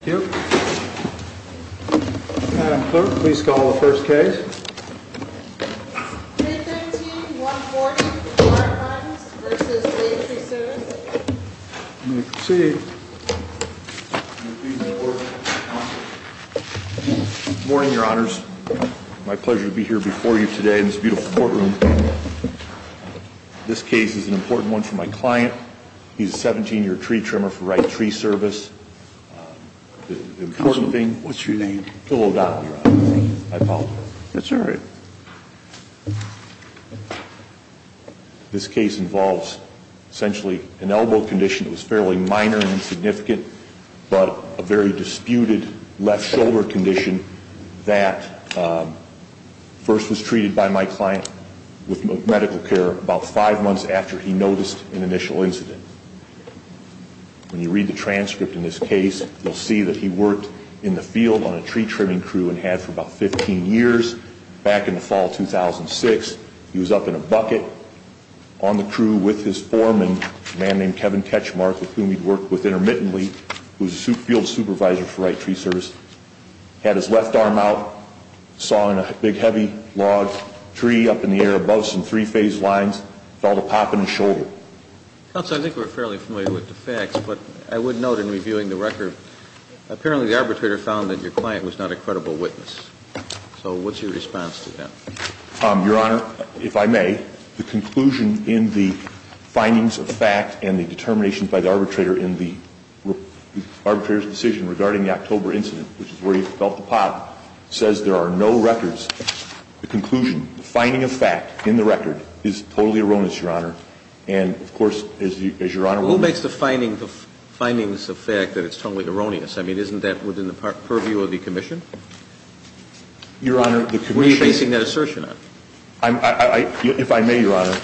Thank you. Madam Clerk, please call the first case. Case 13-140, Karnes v. State Tree Service. You may proceed. Good morning, Your Honors. My pleasure to be here before you today in this beautiful courtroom. This case is an important one for my client. He's a 17-year tree trimmer for Wright Tree Service. The important thing... Counsel, what's your name? Phil O'Donnell, Your Honors. I apologize. That's all right. This case involves, essentially, an elbow condition that was fairly minor and insignificant, but a very disputed left shoulder condition that first was treated by my client with medical care about five months after he noticed an initial incident. When you read the transcript in this case, you'll see that he worked in the field on a tree trimming crew and had for about 15 years. Back in the fall of 2006, he was up in a bucket on the crew with his foreman, a man named Kevin Ketchmark, with whom he'd worked with intermittently. He was a field supervisor for Wright Tree Service. He had his left arm out, sawing a big heavy log tree up in the air above some three-phase lines. Felt a pop in his shoulder. Counsel, I think we're fairly familiar with the facts, but I would note in reviewing the record, apparently the arbitrator found that your client was not a credible witness. So what's your response to that? Your Honor, if I may, the conclusion in the findings of fact and the determination by the arbitrator in the arbitrator's decision regarding the October incident, which is where he felt the pop, says there are no records. The conclusion, the finding of fact in the record, is totally erroneous, Your Honor. And, of course, as Your Honor will remember... Who makes the findings of fact that it's totally erroneous? I mean, isn't that within the purview of the commission? Your Honor, the commission... Were you basing that assertion on? If I may, Your Honor,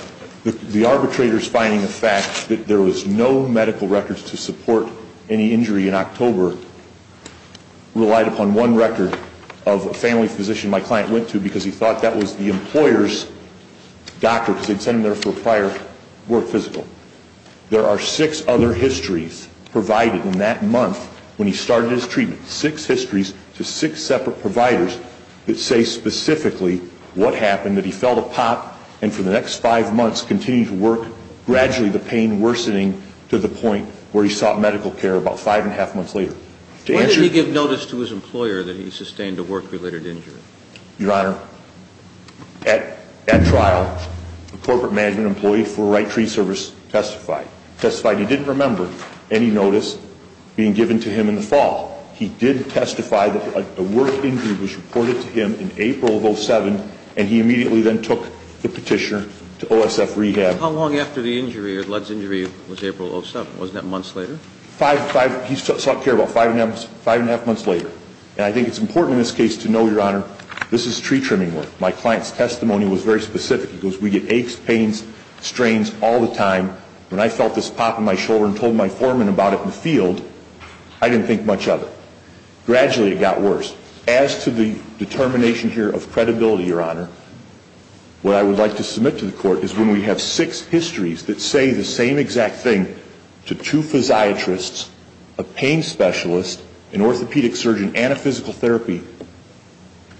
the arbitrator's finding of fact that there was no medical records to support any injury in October relied upon one record of a family physician my client went to because he thought that was the employer's doctor because they'd sent him there for prior work physical. There are six other histories provided in that month when he started his treatment, six histories to six separate providers that say specifically what happened, that he felt a pop and for the next five months continued to work, gradually the pain worsening to the point where he sought medical care about five and a half months later. Why did he give notice to his employer that he sustained a work-related injury? Your Honor, at trial, the corporate management employee for Wright Tree Service testified. He testified he didn't remember any notice being given to him in the fall. He did testify that a work injury was reported to him in April of 07 and he immediately then took the petitioner to OSF rehab. How long after the injury or Ludd's injury was April of 07? Wasn't that months later? He sought care about five and a half months later. And I think it's important in this case to know, Your Honor, this is tree trimming work. My client's testimony was very specific. It goes, we get aches, pains, strains all the time. When I felt this pop in my shoulder and told my foreman about it in the field, I didn't think much of it. Gradually it got worse. As to the determination here of credibility, Your Honor, what I would like to submit to the Court is when we have six histories that say the same exact thing to two physiatrists, a pain specialist, an orthopedic surgeon, and a physical therapy,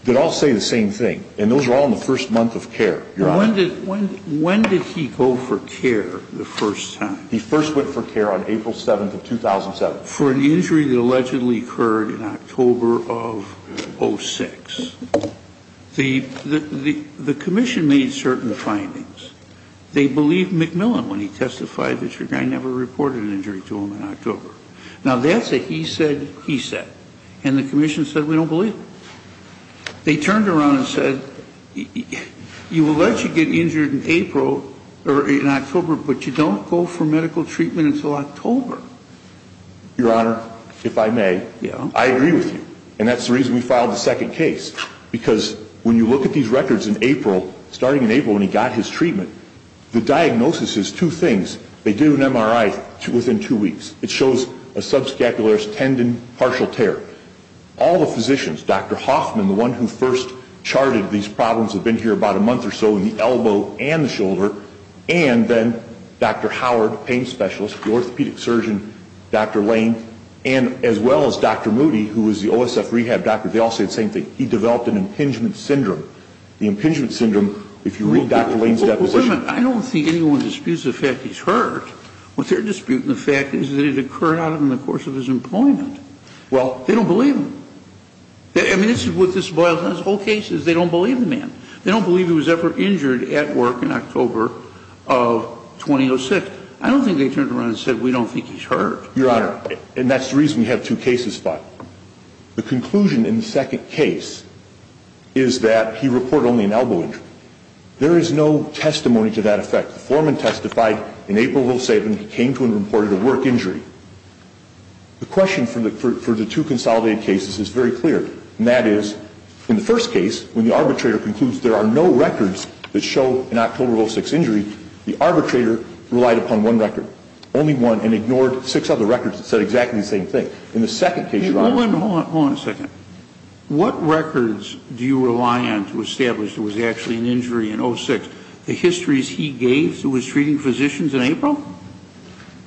they all say the same thing. And those are all in the first month of care, Your Honor. When did he go for care the first time? He first went for care on April 7th of 2007. For an injury that allegedly occurred in October of 06. The commission made certain findings. They believed McMillan when he testified that your guy never reported an injury to him in October. Now, that's a he said, he said. And the commission said, we don't believe it. They turned around and said, you will let you get injured in April or in October, but you don't go for medical treatment until October. Your Honor, if I may, I agree with you. And that's the reason we filed the second case, because when you look at these records in April, starting in April when he got his treatment, the diagnosis is two things. They do an MRI within two weeks. It shows a subscapularis tendon, partial tear. All the physicians, Dr. Hoffman, the one who first charted these problems, had been here about a month or so in the elbow and the shoulder, and then Dr. Howard, pain specialist, the orthopedic surgeon, Dr. Lane, and as well as Dr. Moody, who was the OSF rehab doctor, they all said the same thing. He developed an impingement syndrome. The impingement syndrome, if you read Dr. Lane's deposition. Wait a minute. I don't think anyone disputes the fact he's hurt. What they're disputing the fact is that it occurred out in the course of his employment. Well. They don't believe him. I mean, this is what this boils down to. The whole case is they don't believe the man. They don't believe he was ever injured at work in October of 2006. I don't think they turned around and said, we don't think he's hurt. Your Honor, and that's the reason we have two cases filed. The conclusion in the second case is that he reported only an elbow injury. There is no testimony to that effect. The foreman testified in April of 2007 he came to and reported a work injury. The question for the two consolidated cases is very clear, and that is, in the first case, when the arbitrator concludes there are no records that show an October of 2006 injury, the arbitrator relied upon one record, only one, and ignored six other records that said exactly the same thing. In the second case, Your Honor. Hold on a second. What records do you rely on to establish there was actually an injury in 06? The histories he gave to his treating physicians in April?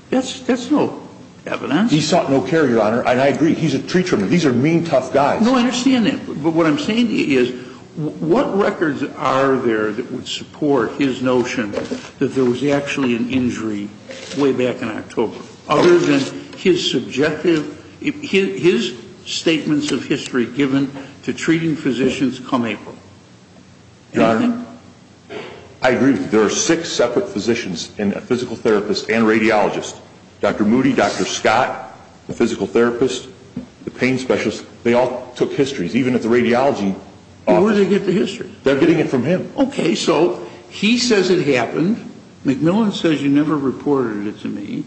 That's no evidence. He sought no care, Your Honor, and I agree. He's a treater. These are mean, tough guys. No, I understand that. But what I'm saying is, what records are there that would support his notion that there was actually an injury way back in October, other than his statements of history given to treating physicians come April? Your Honor, I agree with you. There are six separate physicians and a physical therapist and a radiologist. Dr. Moody, Dr. Scott, the physical therapist, the pain specialist, they all took histories. Even at the radiology office. Where did they get the histories? They're getting it from him. Okay. So he says it happened. McMillan says you never reported it to me.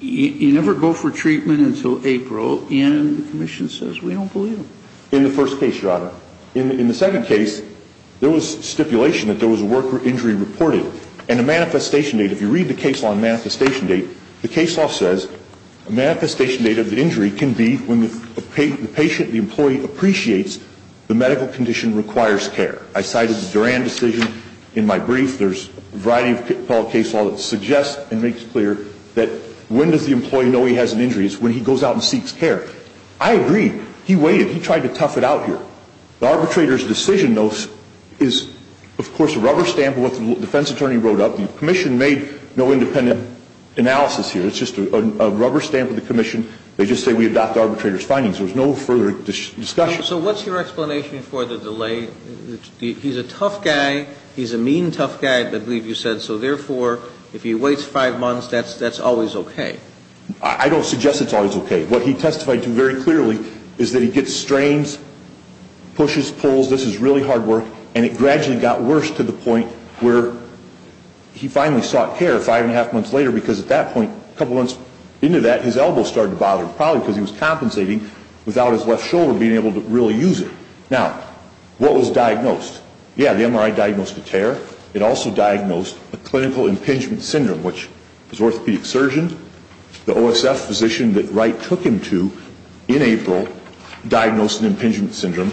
You never go for treatment until April, and the commission says we don't believe him. In the first case, Your Honor. In the second case, there was stipulation that there was a work injury reported, and a manifestation date. If you read the case law manifestation date, the case law says a manifestation date of the injury can be when the patient, the employee appreciates the medical condition requires care. I cited the Duran decision in my brief. There's a variety of case law that suggests and makes clear that when does the employee know he has an injury? It's when he goes out and seeks care. I agree. He waited. He tried to tough it out here. The arbitrator's decision, though, is, of course, a rubber stamp of what the defense attorney wrote up. The commission made no independent analysis here. It's just a rubber stamp of the commission. They just say we adopt the arbitrator's findings. There was no further discussion. So what's your explanation for the delay? He's a tough guy. He's a mean, tough guy, I believe you said, so, therefore, if he waits five months, that's always okay. I don't suggest it's always okay. What he testified to very clearly is that he gets strains, pushes, pulls, this is really hard work, and it gradually got worse to the point where he finally sought care five and a half months later because at that point, a couple months into that, his elbows started to bother him, probably because he was compensating without his left shoulder being able to really use it. Now, what was diagnosed? Yeah, the MRI diagnosed a tear. It also diagnosed a clinical impingement syndrome, which his orthopedic surgeon, the OSF physician that Wright took him to in April, diagnosed an impingement syndrome.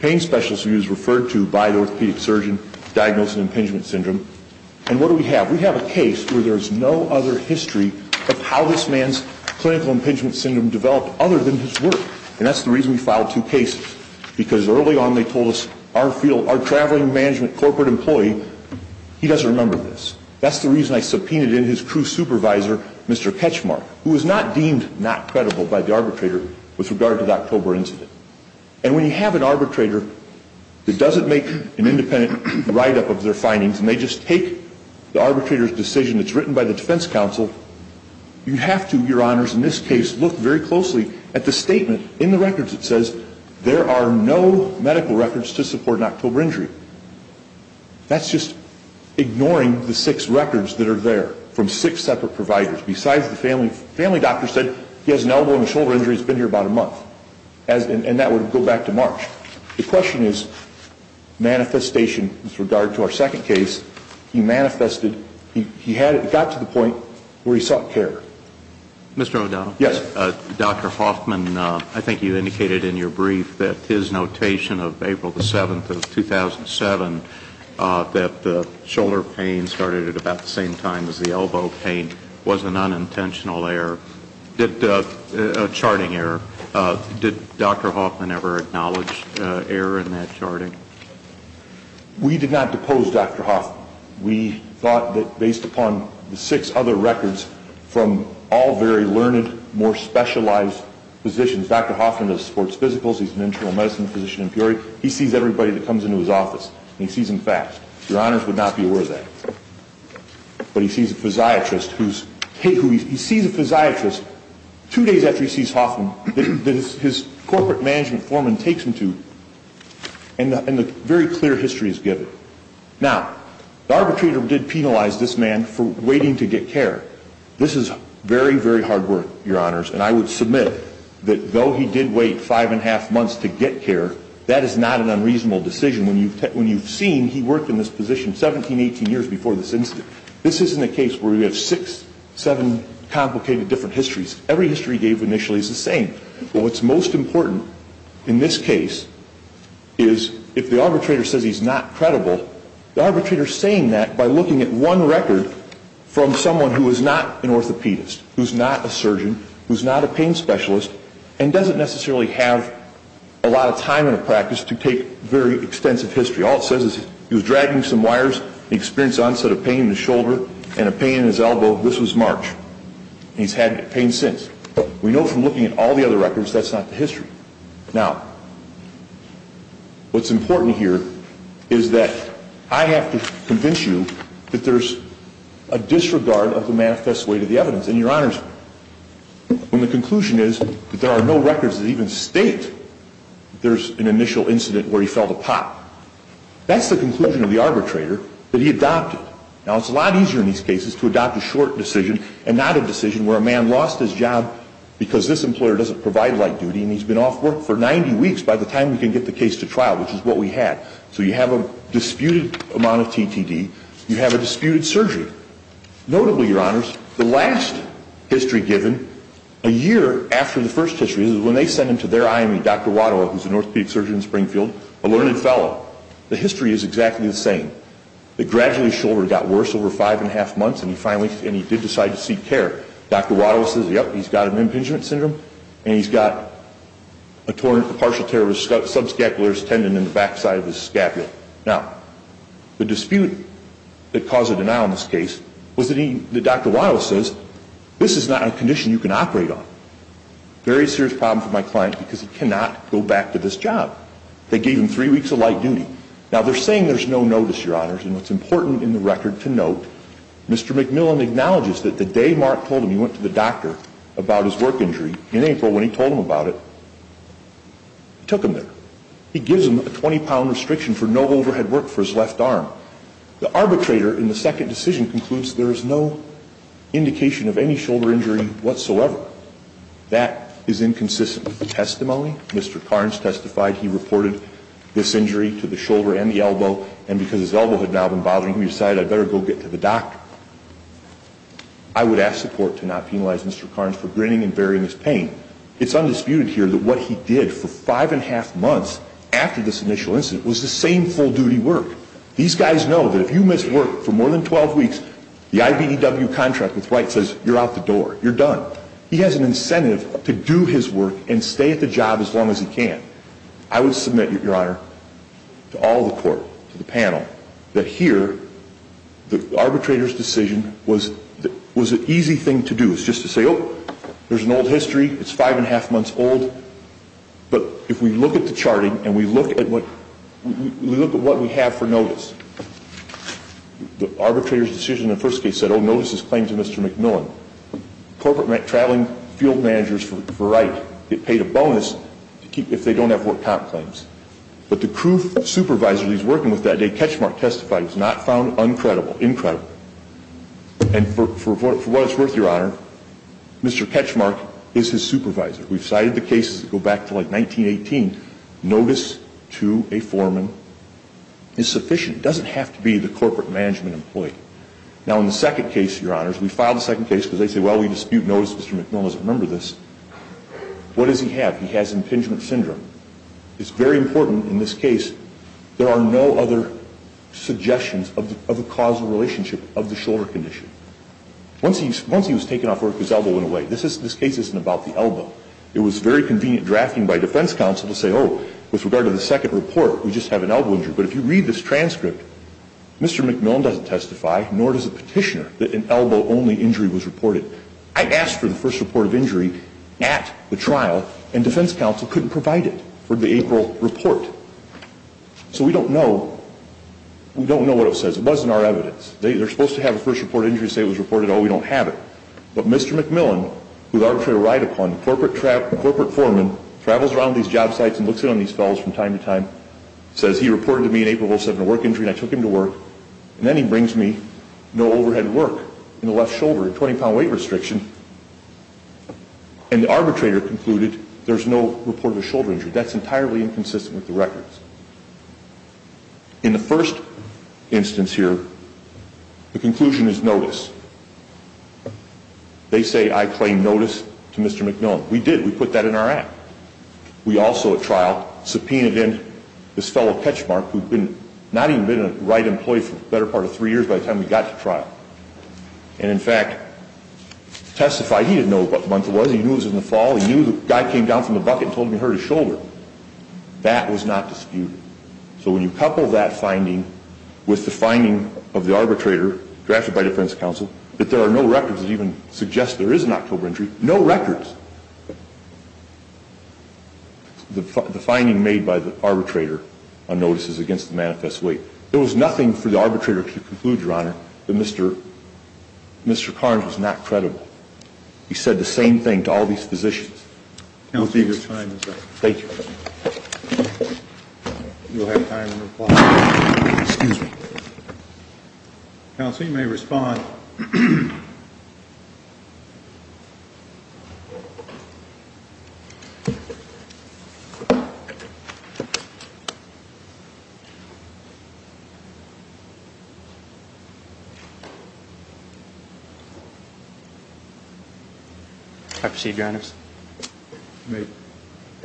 Pain specialist who he was referred to by the orthopedic surgeon diagnosed an impingement syndrome. And what do we have? We have a case where there is no other history of how this man's clinical impingement syndrome developed other than his work, and that's the reason we filed two cases, because early on they told us our field, our traveling management corporate employee, he doesn't remember this. That's the reason I subpoenaed in his crew supervisor, Mr. Ketchmark, who was not deemed not credible by the arbitrator with regard to the October incident. And when you have an arbitrator that doesn't make an independent write-up of their findings and they just take the arbitrator's decision that's written by the defense counsel, you have to, Your Honors, in this case, look very closely at the statement in the records that says there are no medical records to support an October injury. That's just ignoring the six records that are there from six separate providers besides the family doctor said he has an elbow and a shoulder injury, he's been here about a month, and that would go back to March. The question is manifestation with regard to our second case. He manifested, he got to the point where he sought care. Mr. O'Donnell? Yes. Dr. Hoffman, I think you indicated in your brief that his notation of April the 7th of 2007 that the shoulder pain started at about the same time as the elbow pain was an unintentional error, a charting error. Did Dr. Hoffman ever acknowledge error in that charting? We did not depose Dr. Hoffman. We thought that based upon the six other records from all very learned, more specialized physicians, Dr. Hoffman is a sports physicals, he's an internal medicine physician in Peoria, he sees everybody that comes into his office, and he sees them fast. Your Honors would not be aware of that. But he sees a physiatrist who's, he sees a physiatrist two days after he sees Hoffman that his corporate management foreman takes him to, and a very clear history is given. Now, the arbitrator did penalize this man for waiting to get care. This is very, very hard work, Your Honors, and I would submit that though he did wait five and a half months to get care, that is not an unreasonable decision. When you've seen, he worked in this position 17, 18 years before this incident. This isn't a case where you have six, seven complicated different histories. Every history he gave initially is the same. But what's most important in this case is if the arbitrator says he's not credible, the arbitrator's saying that by looking at one record from someone who is not an orthopedist, who's not a surgeon, who's not a pain specialist, and doesn't necessarily have a lot of time in a practice to take very extensive history. All it says is he was dragging some wires, he experienced onset of pain in his shoulder and a pain in his elbow. This was March. He's had pain since. We know from looking at all the other records that's not the history. Now, what's important here is that I have to convince you that there's a disregard of the manifest way to the evidence. And, Your Honors, when the conclusion is that there are no records that even state there's an initial incident where he fell to pot, that's the conclusion of the arbitrator that he adopted. Now, it's a lot easier in these cases to adopt a short decision and not a decision where a man lost his job because this employer doesn't provide light duty and he's been off work for 90 weeks. By the time we can get the case to trial, which is what we had. So you have a disputed amount of TTD. You have a disputed surgery. Notably, Your Honors, the last history given, a year after the first history, is when they sent him to their IME, Dr. Wadowa, who's an orthopedic surgeon in Springfield, a learned fellow. The history is exactly the same. It gradually, his shoulder got worse over five and a half months and he finally did decide to seek care. Dr. Wadowa says, yep, he's got an impingement syndrome and he's got a partial tear of his subscapular tendon in the backside of his scapula. Now, the dispute that caused a denial in this case was that Dr. Wadowa says, this is not a condition you can operate on. Very serious problem for my client because he cannot go back to this job. They gave him three weeks of light duty. Now, they're saying there's no notice, Your Honors, and what's important in the record to note, Mr. McMillan acknowledges that the day Mark told him he went to the doctor about his work injury, in April when he told him about it, he took him there. He gives him a 20-pound restriction for no overhead work for his left arm. The arbitrator, in the second decision, concludes there is no indication of any shoulder injury whatsoever. That is inconsistent with the testimony. Mr. Carnes testified he reported this injury to the shoulder and the elbow and because his elbow had now been bothering him, he decided I'd better go get to the doctor. I would ask the court to not penalize Mr. Carnes for grinning and bearing his pain. It's undisputed here that what he did for five and a half months after this initial incident was the same full-duty work. These guys know that if you miss work for more than 12 weeks, the IBDW contract with Wright says you're out the door, you're done. He has an incentive to do his work and stay at the job as long as he can. I would submit, Your Honor, to all the court, to the panel, that here the arbitrator's decision was an easy thing to do. It's just to say, oh, there's an old history, it's five and a half months old, but if we look at the charting and we look at what we have for notice, the arbitrator's decision in the first case said, oh, notice this claim to Mr. McMillan. Corporate Traveling Field Managers for Wright, it paid a bonus if they don't have work comp claims. But the crew supervisor that he's working with that day, Ketchmark, testified he was not found uncredible, incredible. And for what it's worth, Your Honor, Mr. Ketchmark is his supervisor. We've cited the cases that go back to like 1918. Notice to a foreman is sufficient. It doesn't have to be the corporate management employee. Now, in the second case, Your Honors, we filed a second case because they say, well, we dispute notice, Mr. McMillan doesn't remember this. What does he have? He has impingement syndrome. It's very important in this case, there are no other suggestions of a causal relationship of the shoulder condition. Once he was taken off work, his elbow went away. This case isn't about the elbow. It was very convenient drafting by defense counsel to say, oh, with regard to the second report, we just have an elbow injury. But if you read this transcript, Mr. McMillan doesn't testify, nor does the petitioner, that an elbow-only injury was reported. I asked for the first report of injury at the trial, and defense counsel couldn't provide it for the April report. So we don't know. We don't know what it says. It wasn't our evidence. They're supposed to have a first report of injury, say it was reported, oh, we don't have it. But Mr. McMillan, who is arbitrarily relied upon, a corporate foreman, travels around these job sites and looks in on these fellows from time to time, says he reported to me an April 7 work injury, and I took him to work, and then he brings me no overhead work in the left shoulder, a 20-pound weight restriction. And the arbitrator concluded there's no report of a shoulder injury. That's entirely inconsistent with the records. In the first instance here, the conclusion is notice. They say I claim notice to Mr. McMillan. We did. We put that in our act. We also, at trial, subpoenaed in this fellow, Ketchmark, who had not even been a Wright employee for the better part of three years by the time we got to trial. And, in fact, testified he didn't know what month it was. He knew it was in the fall. He knew the guy came down from the bucket and told him he hurt his shoulder. That was not disputed. So when you couple that finding with the finding of the arbitrator, drafted by defense counsel, that there are no records that even suggest there is an October injury, no records. The finding made by the arbitrator on notice is against the manifest weight. There was nothing for the arbitrator to conclude, Your Honor, that Mr. Carnes was not credible. He said the same thing to all these physicians. Counsel, your time is up. Thank you. You'll have time to reply. Excuse me. Counsel, you may respond. May I proceed, Your Honors? You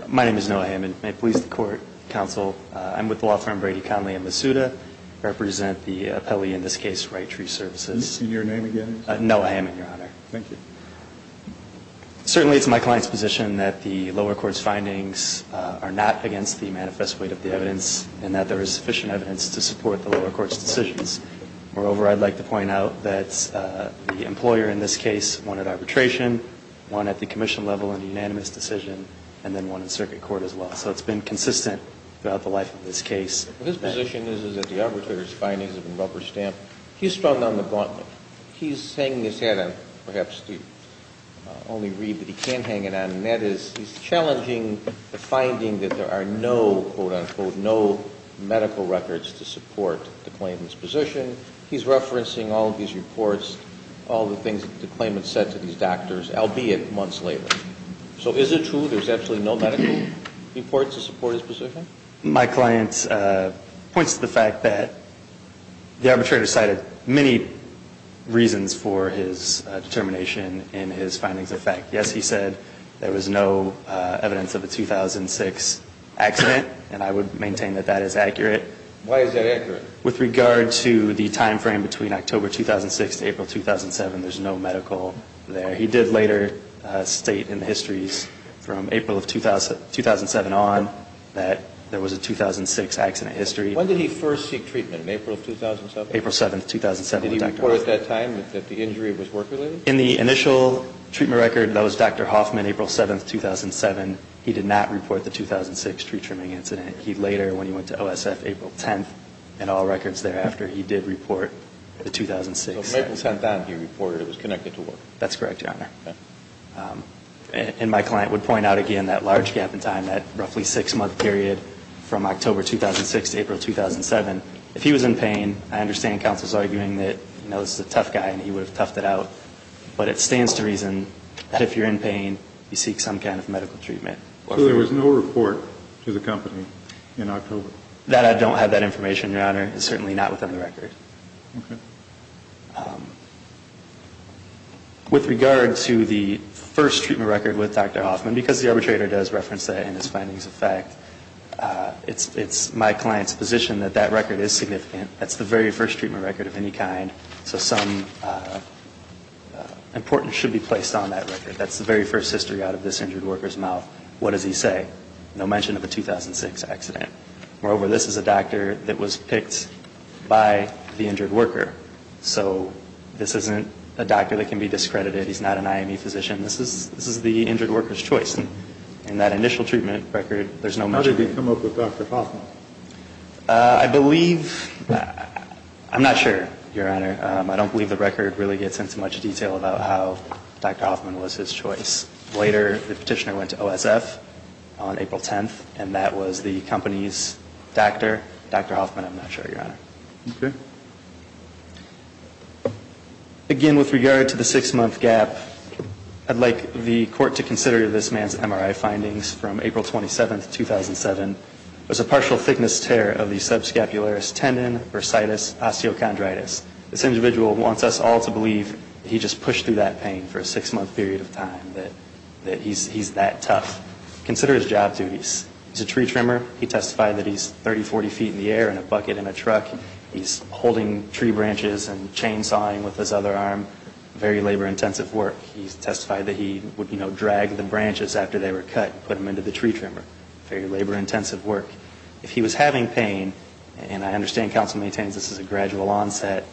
may. My name is Noah Hammond. May it please the Court, Counsel, I'm with the law firm Brady, Conley, and Masuda, represent the appellee in this case, Wright Tree Services. Can you say your name again? Noah Hammond, Your Honor. Thank you. Certainly it's my client's position that the lower court's findings are not against the manifest weight of the evidence and that there is sufficient evidence to support that. Moreover, I'd like to point out that the employer in this case wanted arbitration, one at the commission level in the unanimous decision, and then one in circuit court as well. So it's been consistent throughout the life of this case. His position is that the arbitrator's findings have been rubber-stamped. He's strung on the gauntlet. He's hanging his hat on perhaps to only read, but he can hang it on, and that is he's challenging the finding that there are no, quote, unquote, medical records to support the claimant's position. He's referencing all of these reports, all the things that the claimant said to these doctors, albeit months later. So is it true there's absolutely no medical reports to support his position? My client points to the fact that the arbitrator cited many reasons for his determination in his findings of fact. Yes, he said there was no evidence of a 2006 accident, and I would maintain that that is accurate. Why is that accurate? With regard to the timeframe between October 2006 to April 2007, there's no medical there. He did later state in the histories from April of 2007 on that there was a 2006 accident history. When did he first seek treatment? In April of 2007? April 7, 2007. Did he report at that time that the injury was work-related? In the initial treatment record, that was Dr. Hoffman, April 7, 2007. He did not report the 2006 tree-trimming incident. He later, when he went to OSF April 10, in all records thereafter, he did report the 2006. So April 10, he reported it was connected to work. That's correct, Your Honor. Okay. And my client would point out again that large gap in time, that roughly six-month period from October 2006 to April 2007. If he was in pain, I understand counsel's arguing that, you know, this is a tough guy, and he would have toughed it out. But it stands to reason that if you're in pain, you seek some kind of medical treatment. So there was no report to the company in October? That I don't have that information, Your Honor, is certainly not within the record. Okay. With regard to the first treatment record with Dr. Hoffman, because the arbitrator does reference that in his findings of fact, it's my client's position that that record is significant. That's the very first treatment record of any kind. So some importance should be placed on that record. That's the very first history out of this injured worker's mouth. What does he say? No mention of a 2006 accident. Moreover, this is a doctor that was picked by the injured worker. So this isn't a doctor that can be discredited. He's not an IME physician. This is the injured worker's choice. And that initial treatment record, there's no mention of it. How did he come up with Dr. Hoffman? I believe, I'm not sure, Your Honor. I don't believe the record really gets into much detail about how Dr. Hoffman was his choice. Later, the petitioner went to OSF on April 10th, and that was the company's doctor, Dr. Hoffman. I'm not sure, Your Honor. Okay. Again, with regard to the six-month gap, I'd like the court to consider this man's MRI findings from April 27th, 2007. It was a partial thickness tear of the subscapularis tendon, bursitis, osteochondritis. This individual wants us all to believe he just pushed through that pain for a six-month period of time, that he's that tough. Consider his job duties. He's a tree trimmer. He testified that he's 30, 40 feet in the air in a bucket in a truck. He's holding tree branches and chainsawing with his other arm. Very labor-intensive work. He testified that he would drag the branches after they were cut and put them into the tree trimmer. Very labor-intensive work. If he was having pain, and I understand counsel maintains this is a gradual onset,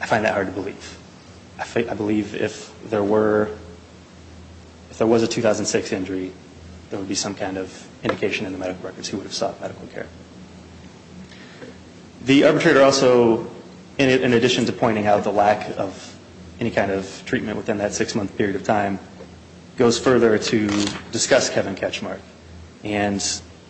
I find that hard to believe. I believe if there was a 2006 injury, there would be some kind of indication in the medical records he would have sought medical care. The arbitrator also, in addition to pointing out the lack of any kind of treatment within that six-month period of time, goes further to discuss Kevin Ketchmark. And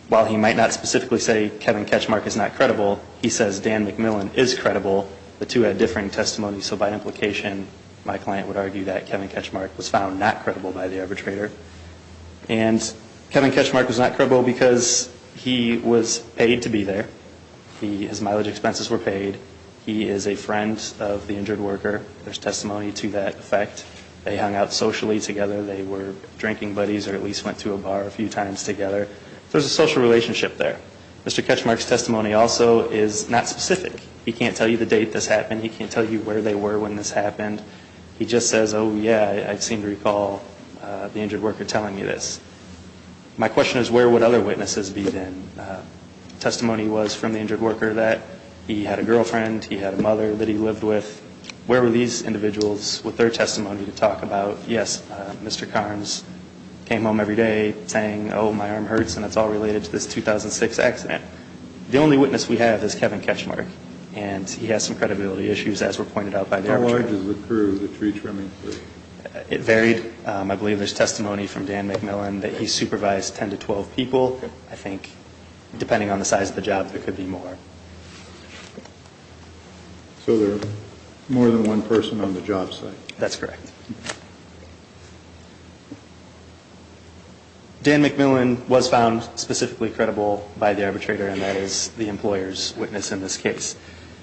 while he might not specifically say Kevin Ketchmark is not credible, he says Dan McMillan is credible. The two had differing testimonies. So by implication, my client would argue that Kevin Ketchmark was found not credible by the arbitrator. And Kevin Ketchmark was not credible because he was paid to be there. His mileage expenses were paid. He is a friend of the injured worker. There's testimony to that effect. They hung out socially together. They were drinking buddies or at least went to a bar a few times together. There's a social relationship there. Mr. Ketchmark's testimony also is not specific. He can't tell you the date this happened. He can't tell you where they were when this happened. He just says, oh, yeah, I seem to recall the injured worker telling me this. My question is where would other witnesses be then? Testimony was from the injured worker that he had a girlfriend, he had a mother that he lived with. Where were these individuals with their testimony to talk about, yes, Mr. Carnes came home every day saying, oh, my arm hurts and it's all related to this 2006 accident. The only witness we have is Kevin Ketchmark. And he has some credibility issues, as were pointed out by the arbitrator. How large is the crew, the tree trimming crew? It varied. I believe there's testimony from Dan McMillan that he supervised 10 to 12 people. I think depending on the size of the job, there could be more. So there are more than one person on the job site. That's correct. Dan McMillan was found specifically credible by the arbitrator, and that is the employer's witness in this case.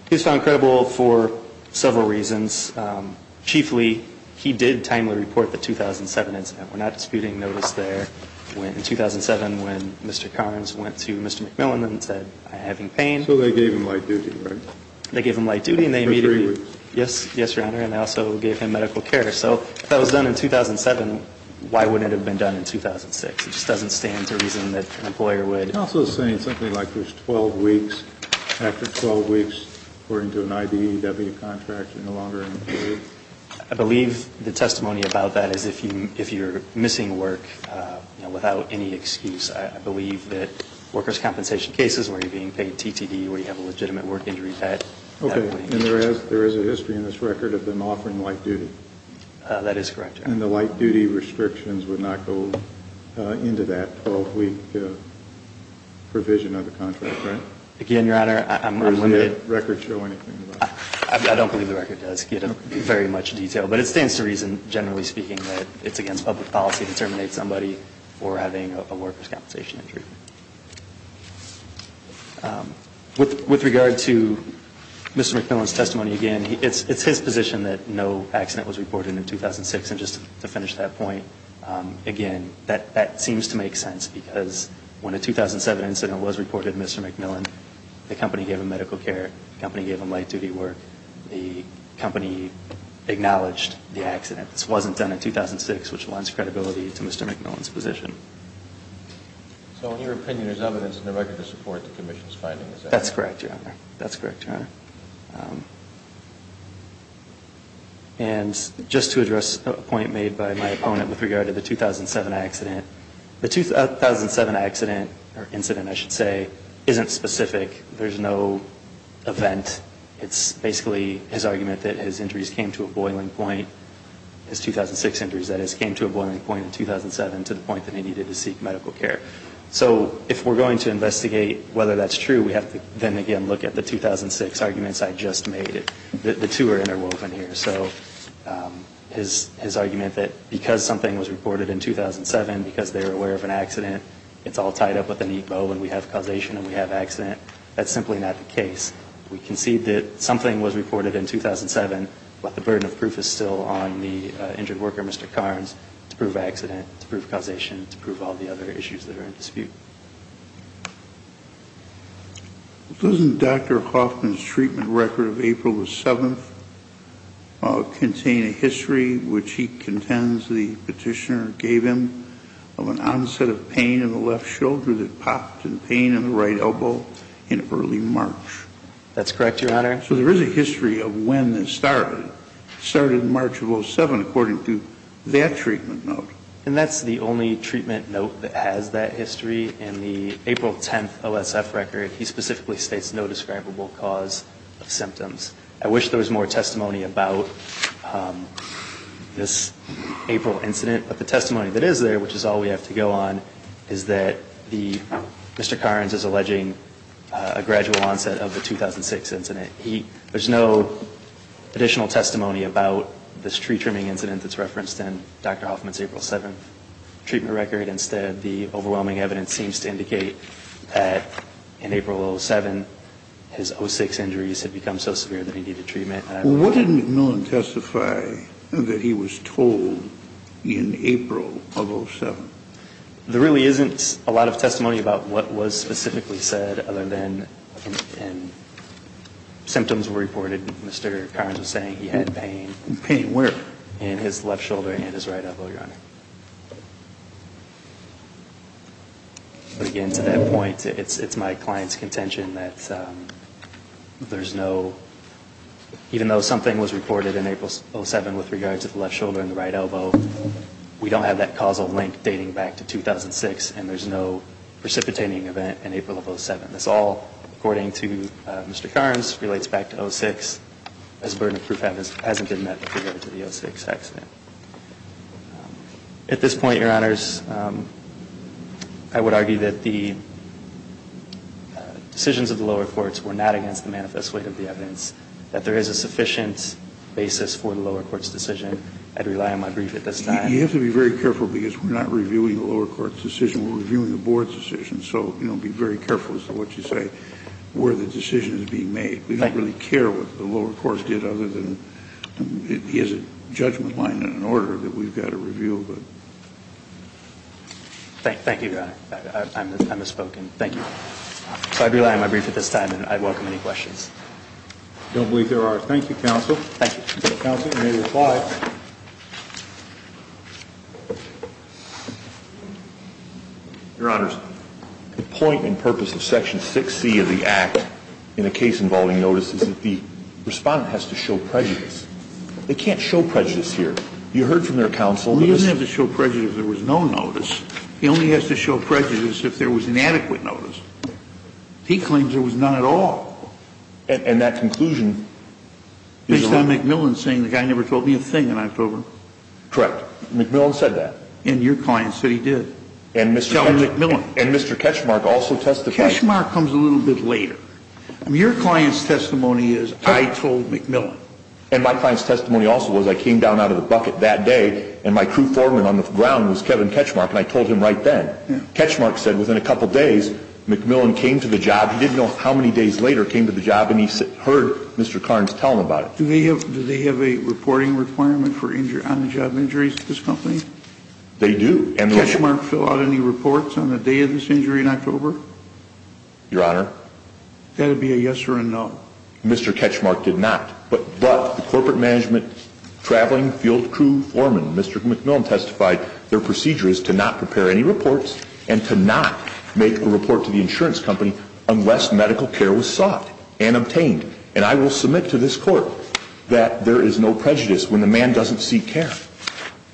He was found credible for several reasons. Chiefly, he did timely report the 2007 incident. We're not disputing notice there in 2007 when Mr. Carnes went to Mr. McMillan and said, I'm having pain. So they gave him light duty, right? They gave him light duty, and they immediately- For three weeks. Yes, Your Honor, and they also gave him medical care. So if that was done in 2007, why wouldn't it have been done in 2006? It just doesn't stand to reason that an employer would- Counsel is saying something like there's 12 weeks. After 12 weeks, according to an IDEW contract, you're no longer employed. I believe the testimony about that is if you're missing work without any excuse. I believe that workers' compensation cases where you're being paid TTD, where you have a legitimate work injury, that- Okay, and there is a history in this record of them offering light duty. That is correct, Your Honor. And the light duty restrictions would not go into that 12-week provision of the contract, right? Again, Your Honor, I'm limited- Does the record show anything about that? I don't believe the record does give it very much detail, but it stands to reason, generally speaking, that it's against public policy to terminate somebody for having a workers' compensation injury. With regard to Mr. McMillan's testimony, again, it's his position that no accident was reported in 2006. And just to finish that point, again, that seems to make sense, because when a 2007 incident was reported to Mr. McMillan, the company gave him medical care. The company gave him light duty work. The company acknowledged the accident. This wasn't done in 2006, which lends credibility to Mr. McMillan's position. So in your opinion, there's evidence in the record to support the Commission's findings? That's correct, Your Honor. That's correct, Your Honor. And just to address a point made by my opponent with regard to the 2007 accident, the 2007 accident, or incident, I should say, isn't specific. There's no event. It's basically his argument that his injuries came to a boiling point, his 2006 injuries, that is, came to a boiling point in 2007 to the point that he needed to seek medical care. So if we're going to investigate whether that's true, we have to then again look at the 2006 arguments I just made. The two are interwoven here. So his argument that because something was reported in 2007, because they were aware of an accident, it's all tied up with a neat bow and we have causation and we have accident, that's simply not the case. We concede that something was reported in 2007, but the burden of proof is still on the injured worker, Mr. Carnes, to prove accident, to prove causation, to prove all the other issues that are in dispute. Doesn't Dr. Hoffman's treatment record of April the 7th contain a history, which he contends the petitioner gave him, of an onset of pain in the left shoulder that popped and pain in the right elbow in early March? That's correct, Your Honor. So there is a history of when this started. It started March of 07, according to that treatment note. And that's the only treatment note that has that history. In the April 10th OSF record, he specifically states no describable cause of symptoms. I wish there was more testimony about this April incident, but the testimony that is there, which is all we have to go on, is that Mr. Carnes is alleging a gradual onset of the 2006 incident. There's no additional testimony about this tree trimming incident that's referenced in Dr. Hoffman's April 7th treatment record. Instead, the overwhelming evidence seems to indicate that in April of 07, his 06 injuries had become so severe that he needed treatment. Well, what did McMillan testify that he was told in April of 07? There really isn't a lot of testimony about what was specifically said, other than symptoms were reported. Mr. Carnes was saying he had pain. Pain where? But again, to that point, it's my client's contention that there's no, even though something was reported in April of 07 with regard to the left shoulder and the right elbow, we don't have that causal link dating back to 2006, and there's no precipitating event in April of 07. This all, according to Mr. Carnes, relates back to 06, as burden of proof hasn't been met with regard to the 06 accident. At this point, Your Honors, I would argue that the decisions of the lower courts were not against the manifest weight of the evidence, that there is a sufficient basis for the lower court's decision. I'd rely on my brief at this time. You have to be very careful, because we're not reviewing the lower court's decision. We're reviewing the board's decision, so be very careful as to what you say, where the decision is being made. We don't really care what the lower court did, other than it is a judgment line and an order that we've got to review. Thank you, Your Honor. I misspoke. Thank you. So I'd rely on my brief at this time, and I'd welcome any questions. I don't believe there are. Thank you, Counsel. Thank you. Counsel, you may reply. Your Honors, the point and purpose of Section 6C of the Act in a case involving notice is that the respondent has to show prejudice. They can't show prejudice here. You heard from their counsel that this is the case. He doesn't have to show prejudice if there was no notice. He only has to show prejudice if there was inadequate notice. He claims there was none at all. And that conclusion is a lie. Based on McMillan saying the guy never told me a thing in October. Correct. McMillan said that. And your client said he did. And Mr. Ketchmark also testified. Ketchmark comes a little bit later. Your client's testimony is, I told McMillan. And my client's testimony also was, I came down out of the bucket that day, and my crew foreman on the ground was Kevin Ketchmark, and I told him right then. Ketchmark said within a couple days, McMillan came to the job. He did know how many days later he came to the job, and he heard Mr. Carnes tell him about it. Do they have a reporting requirement for on-the-job injuries to this company? They do. Did Ketchmark fill out any reports on the day of this injury in October? Your Honor? That would be a yes or a no. Mr. Ketchmark did not. But the corporate management traveling field crew foreman, Mr. McMillan, testified their procedure is to not prepare any reports and to not make a report to the insurance company unless medical care was sought and obtained. And I will submit to this Court that there is no prejudice when the man doesn't seek care.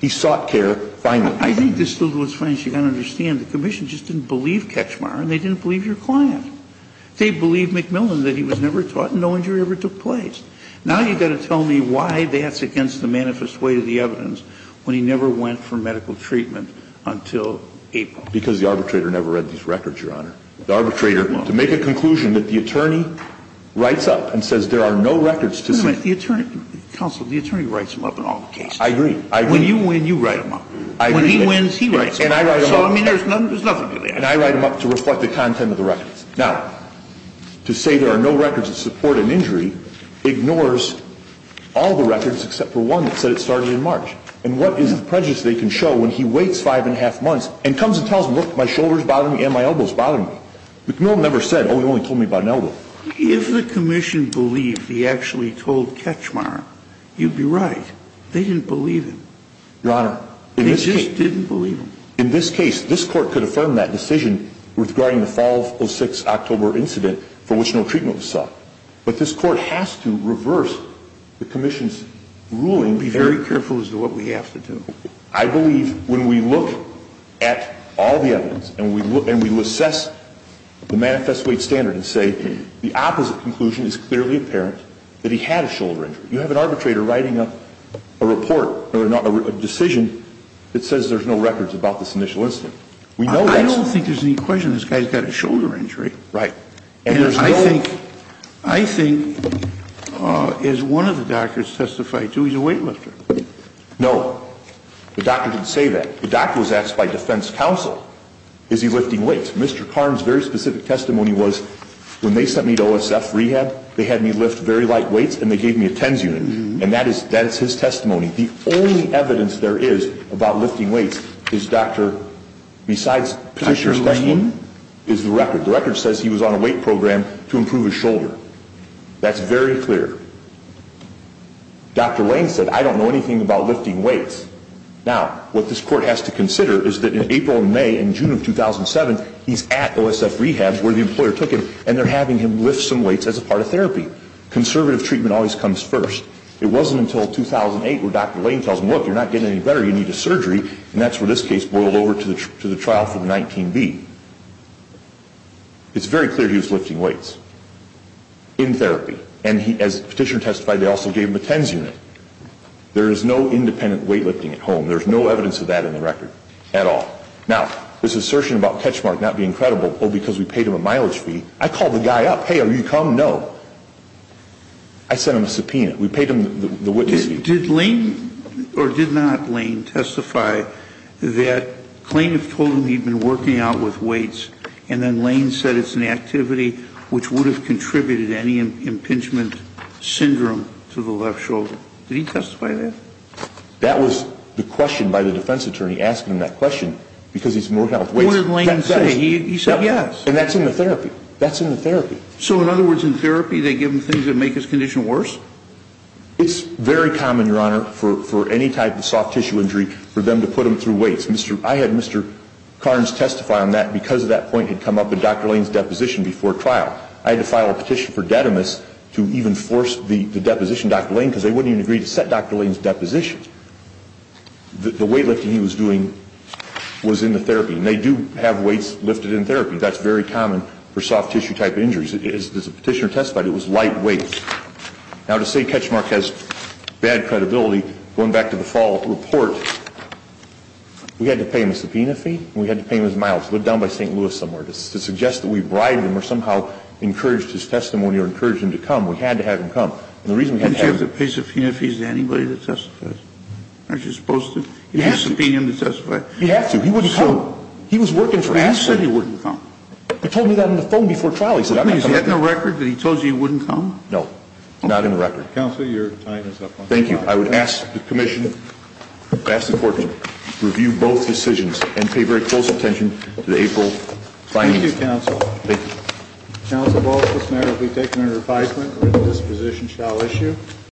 He sought care finally. I think this little is funny. As you can understand, the Commission just didn't believe Ketchmark, and they didn't believe your client. They believed McMillan that he was never taught and no injury ever took place. Now you've got to tell me why that's against the manifest way of the evidence when he never went for medical treatment until April. Because the arbitrator never read these records, Your Honor. The arbitrator, to make a conclusion that the attorney writes up and says there are no records to see. Wait a minute. Counsel, the attorney writes them up in all the cases. I agree. When you win, you write them up. I agree. When he wins, he writes them up. And I write them up. So, I mean, there's nothing to that. And I write them up to reflect the content of the records. Now, to say there are no records that support an injury ignores all the records except for one that said it started in March. And what is the prejudice they can show when he waits five and a half months and comes and tells them, look, my shoulder is bothering me and my elbow is bothering me. McMillan never said, oh, he only told me about an elbow. If the Commission believed he actually told Ketchmark, you'd be right. They didn't believe him. Your Honor, in this case. They just didn't believe him. In this case, this Court could affirm that decision regarding the fall of 6 October incident for which no treatment was sought. But this Court has to reverse the Commission's ruling. Be very careful as to what we have to do. I believe when we look at all the evidence and we assess the manifest weight standard and say the opposite conclusion is clearly apparent that he had a shoulder injury. You have an arbitrator writing a report or a decision that says there's no records about this initial incident. We know that. I don't think there's any question this guy's got a shoulder injury. Right. And I think as one of the doctors testified to, he's a weightlifter. No. The doctor didn't say that. The doctor was asked by defense counsel, is he lifting weights? Mr. Karm's very specific testimony was when they sent me to OSF rehab, they had me lift very light weights and they gave me a TENS unit. And that is his testimony. The only evidence there is about lifting weights is Dr. besides Petitioner's claim is the record. The record says he was on a weight program to improve his shoulder. That's very clear. Dr. Lane said, I don't know anything about lifting weights. Now, what this court has to consider is that in April and May and June of 2007, he's at OSF rehab where the employer took him, and they're having him lift some weights as a part of therapy. Conservative treatment always comes first. It wasn't until 2008 where Dr. Lane tells him, look, you're not getting any better. You need a surgery. And that's where this case boiled over to the trial for the 19B. It's very clear he was lifting weights in therapy. And as Petitioner testified, they also gave him a TENS unit. There is no independent weight lifting at home. There's no evidence of that in the record at all. Now, this assertion about Ketchmark not being credible, oh, because we paid him a mileage fee, I called the guy up. Hey, are you coming? No. I sent him a subpoena. We paid him the witness fee. Did Lane or did not Lane testify that plaintiff told him he'd been working out with weights, and then Lane said it's an activity which would have contributed any impingement syndrome to the left shoulder? Did he testify to that? That was the question by the defense attorney asking him that question because he's been working out with weights. What did Lane say? He said yes. And that's in the therapy. That's in the therapy. So in other words, in therapy, they give him things that make his condition worse? It's very common, Your Honor, for any type of soft tissue injury for them to put him through weights. I had Mr. Carnes testify on that because that point had come up in Dr. Lane's deposition before trial. I had to file a petition for Detimus to even force the deposition Dr. Lane because they wouldn't even agree to set Dr. Lane's deposition. The weight lifting he was doing was in the therapy, and they do have weights lifted in therapy. That's very common for soft tissue type injuries. As the petitioner testified, it was light weights. Now, to say Ketchmark has bad credibility, going back to the fall report, we had to pay him a subpoena fee and we had to pay him his miles, go down by St. Louis somewhere to suggest that we bribed him or somehow encouraged his testimony or encouraged him to come. We had to have him come. And the reason we had to have him come. Didn't you have to pay subpoena fees to anybody to testify? Aren't you supposed to? You have to. You have to subpoena him to testify. You have to. He wouldn't come. He was working for you. He said he wouldn't come. He told me that on the phone before trial. He said he wouldn't come. Is that in the record that he told you he wouldn't come? No. Not in the record. Counsel, your time is up. Thank you. I would ask the commission, ask the court to review both decisions and pay very close attention to the April findings. Thank you, counsel. Thank you. Counsel, both this matter will be taken under advisement and this position shall issue.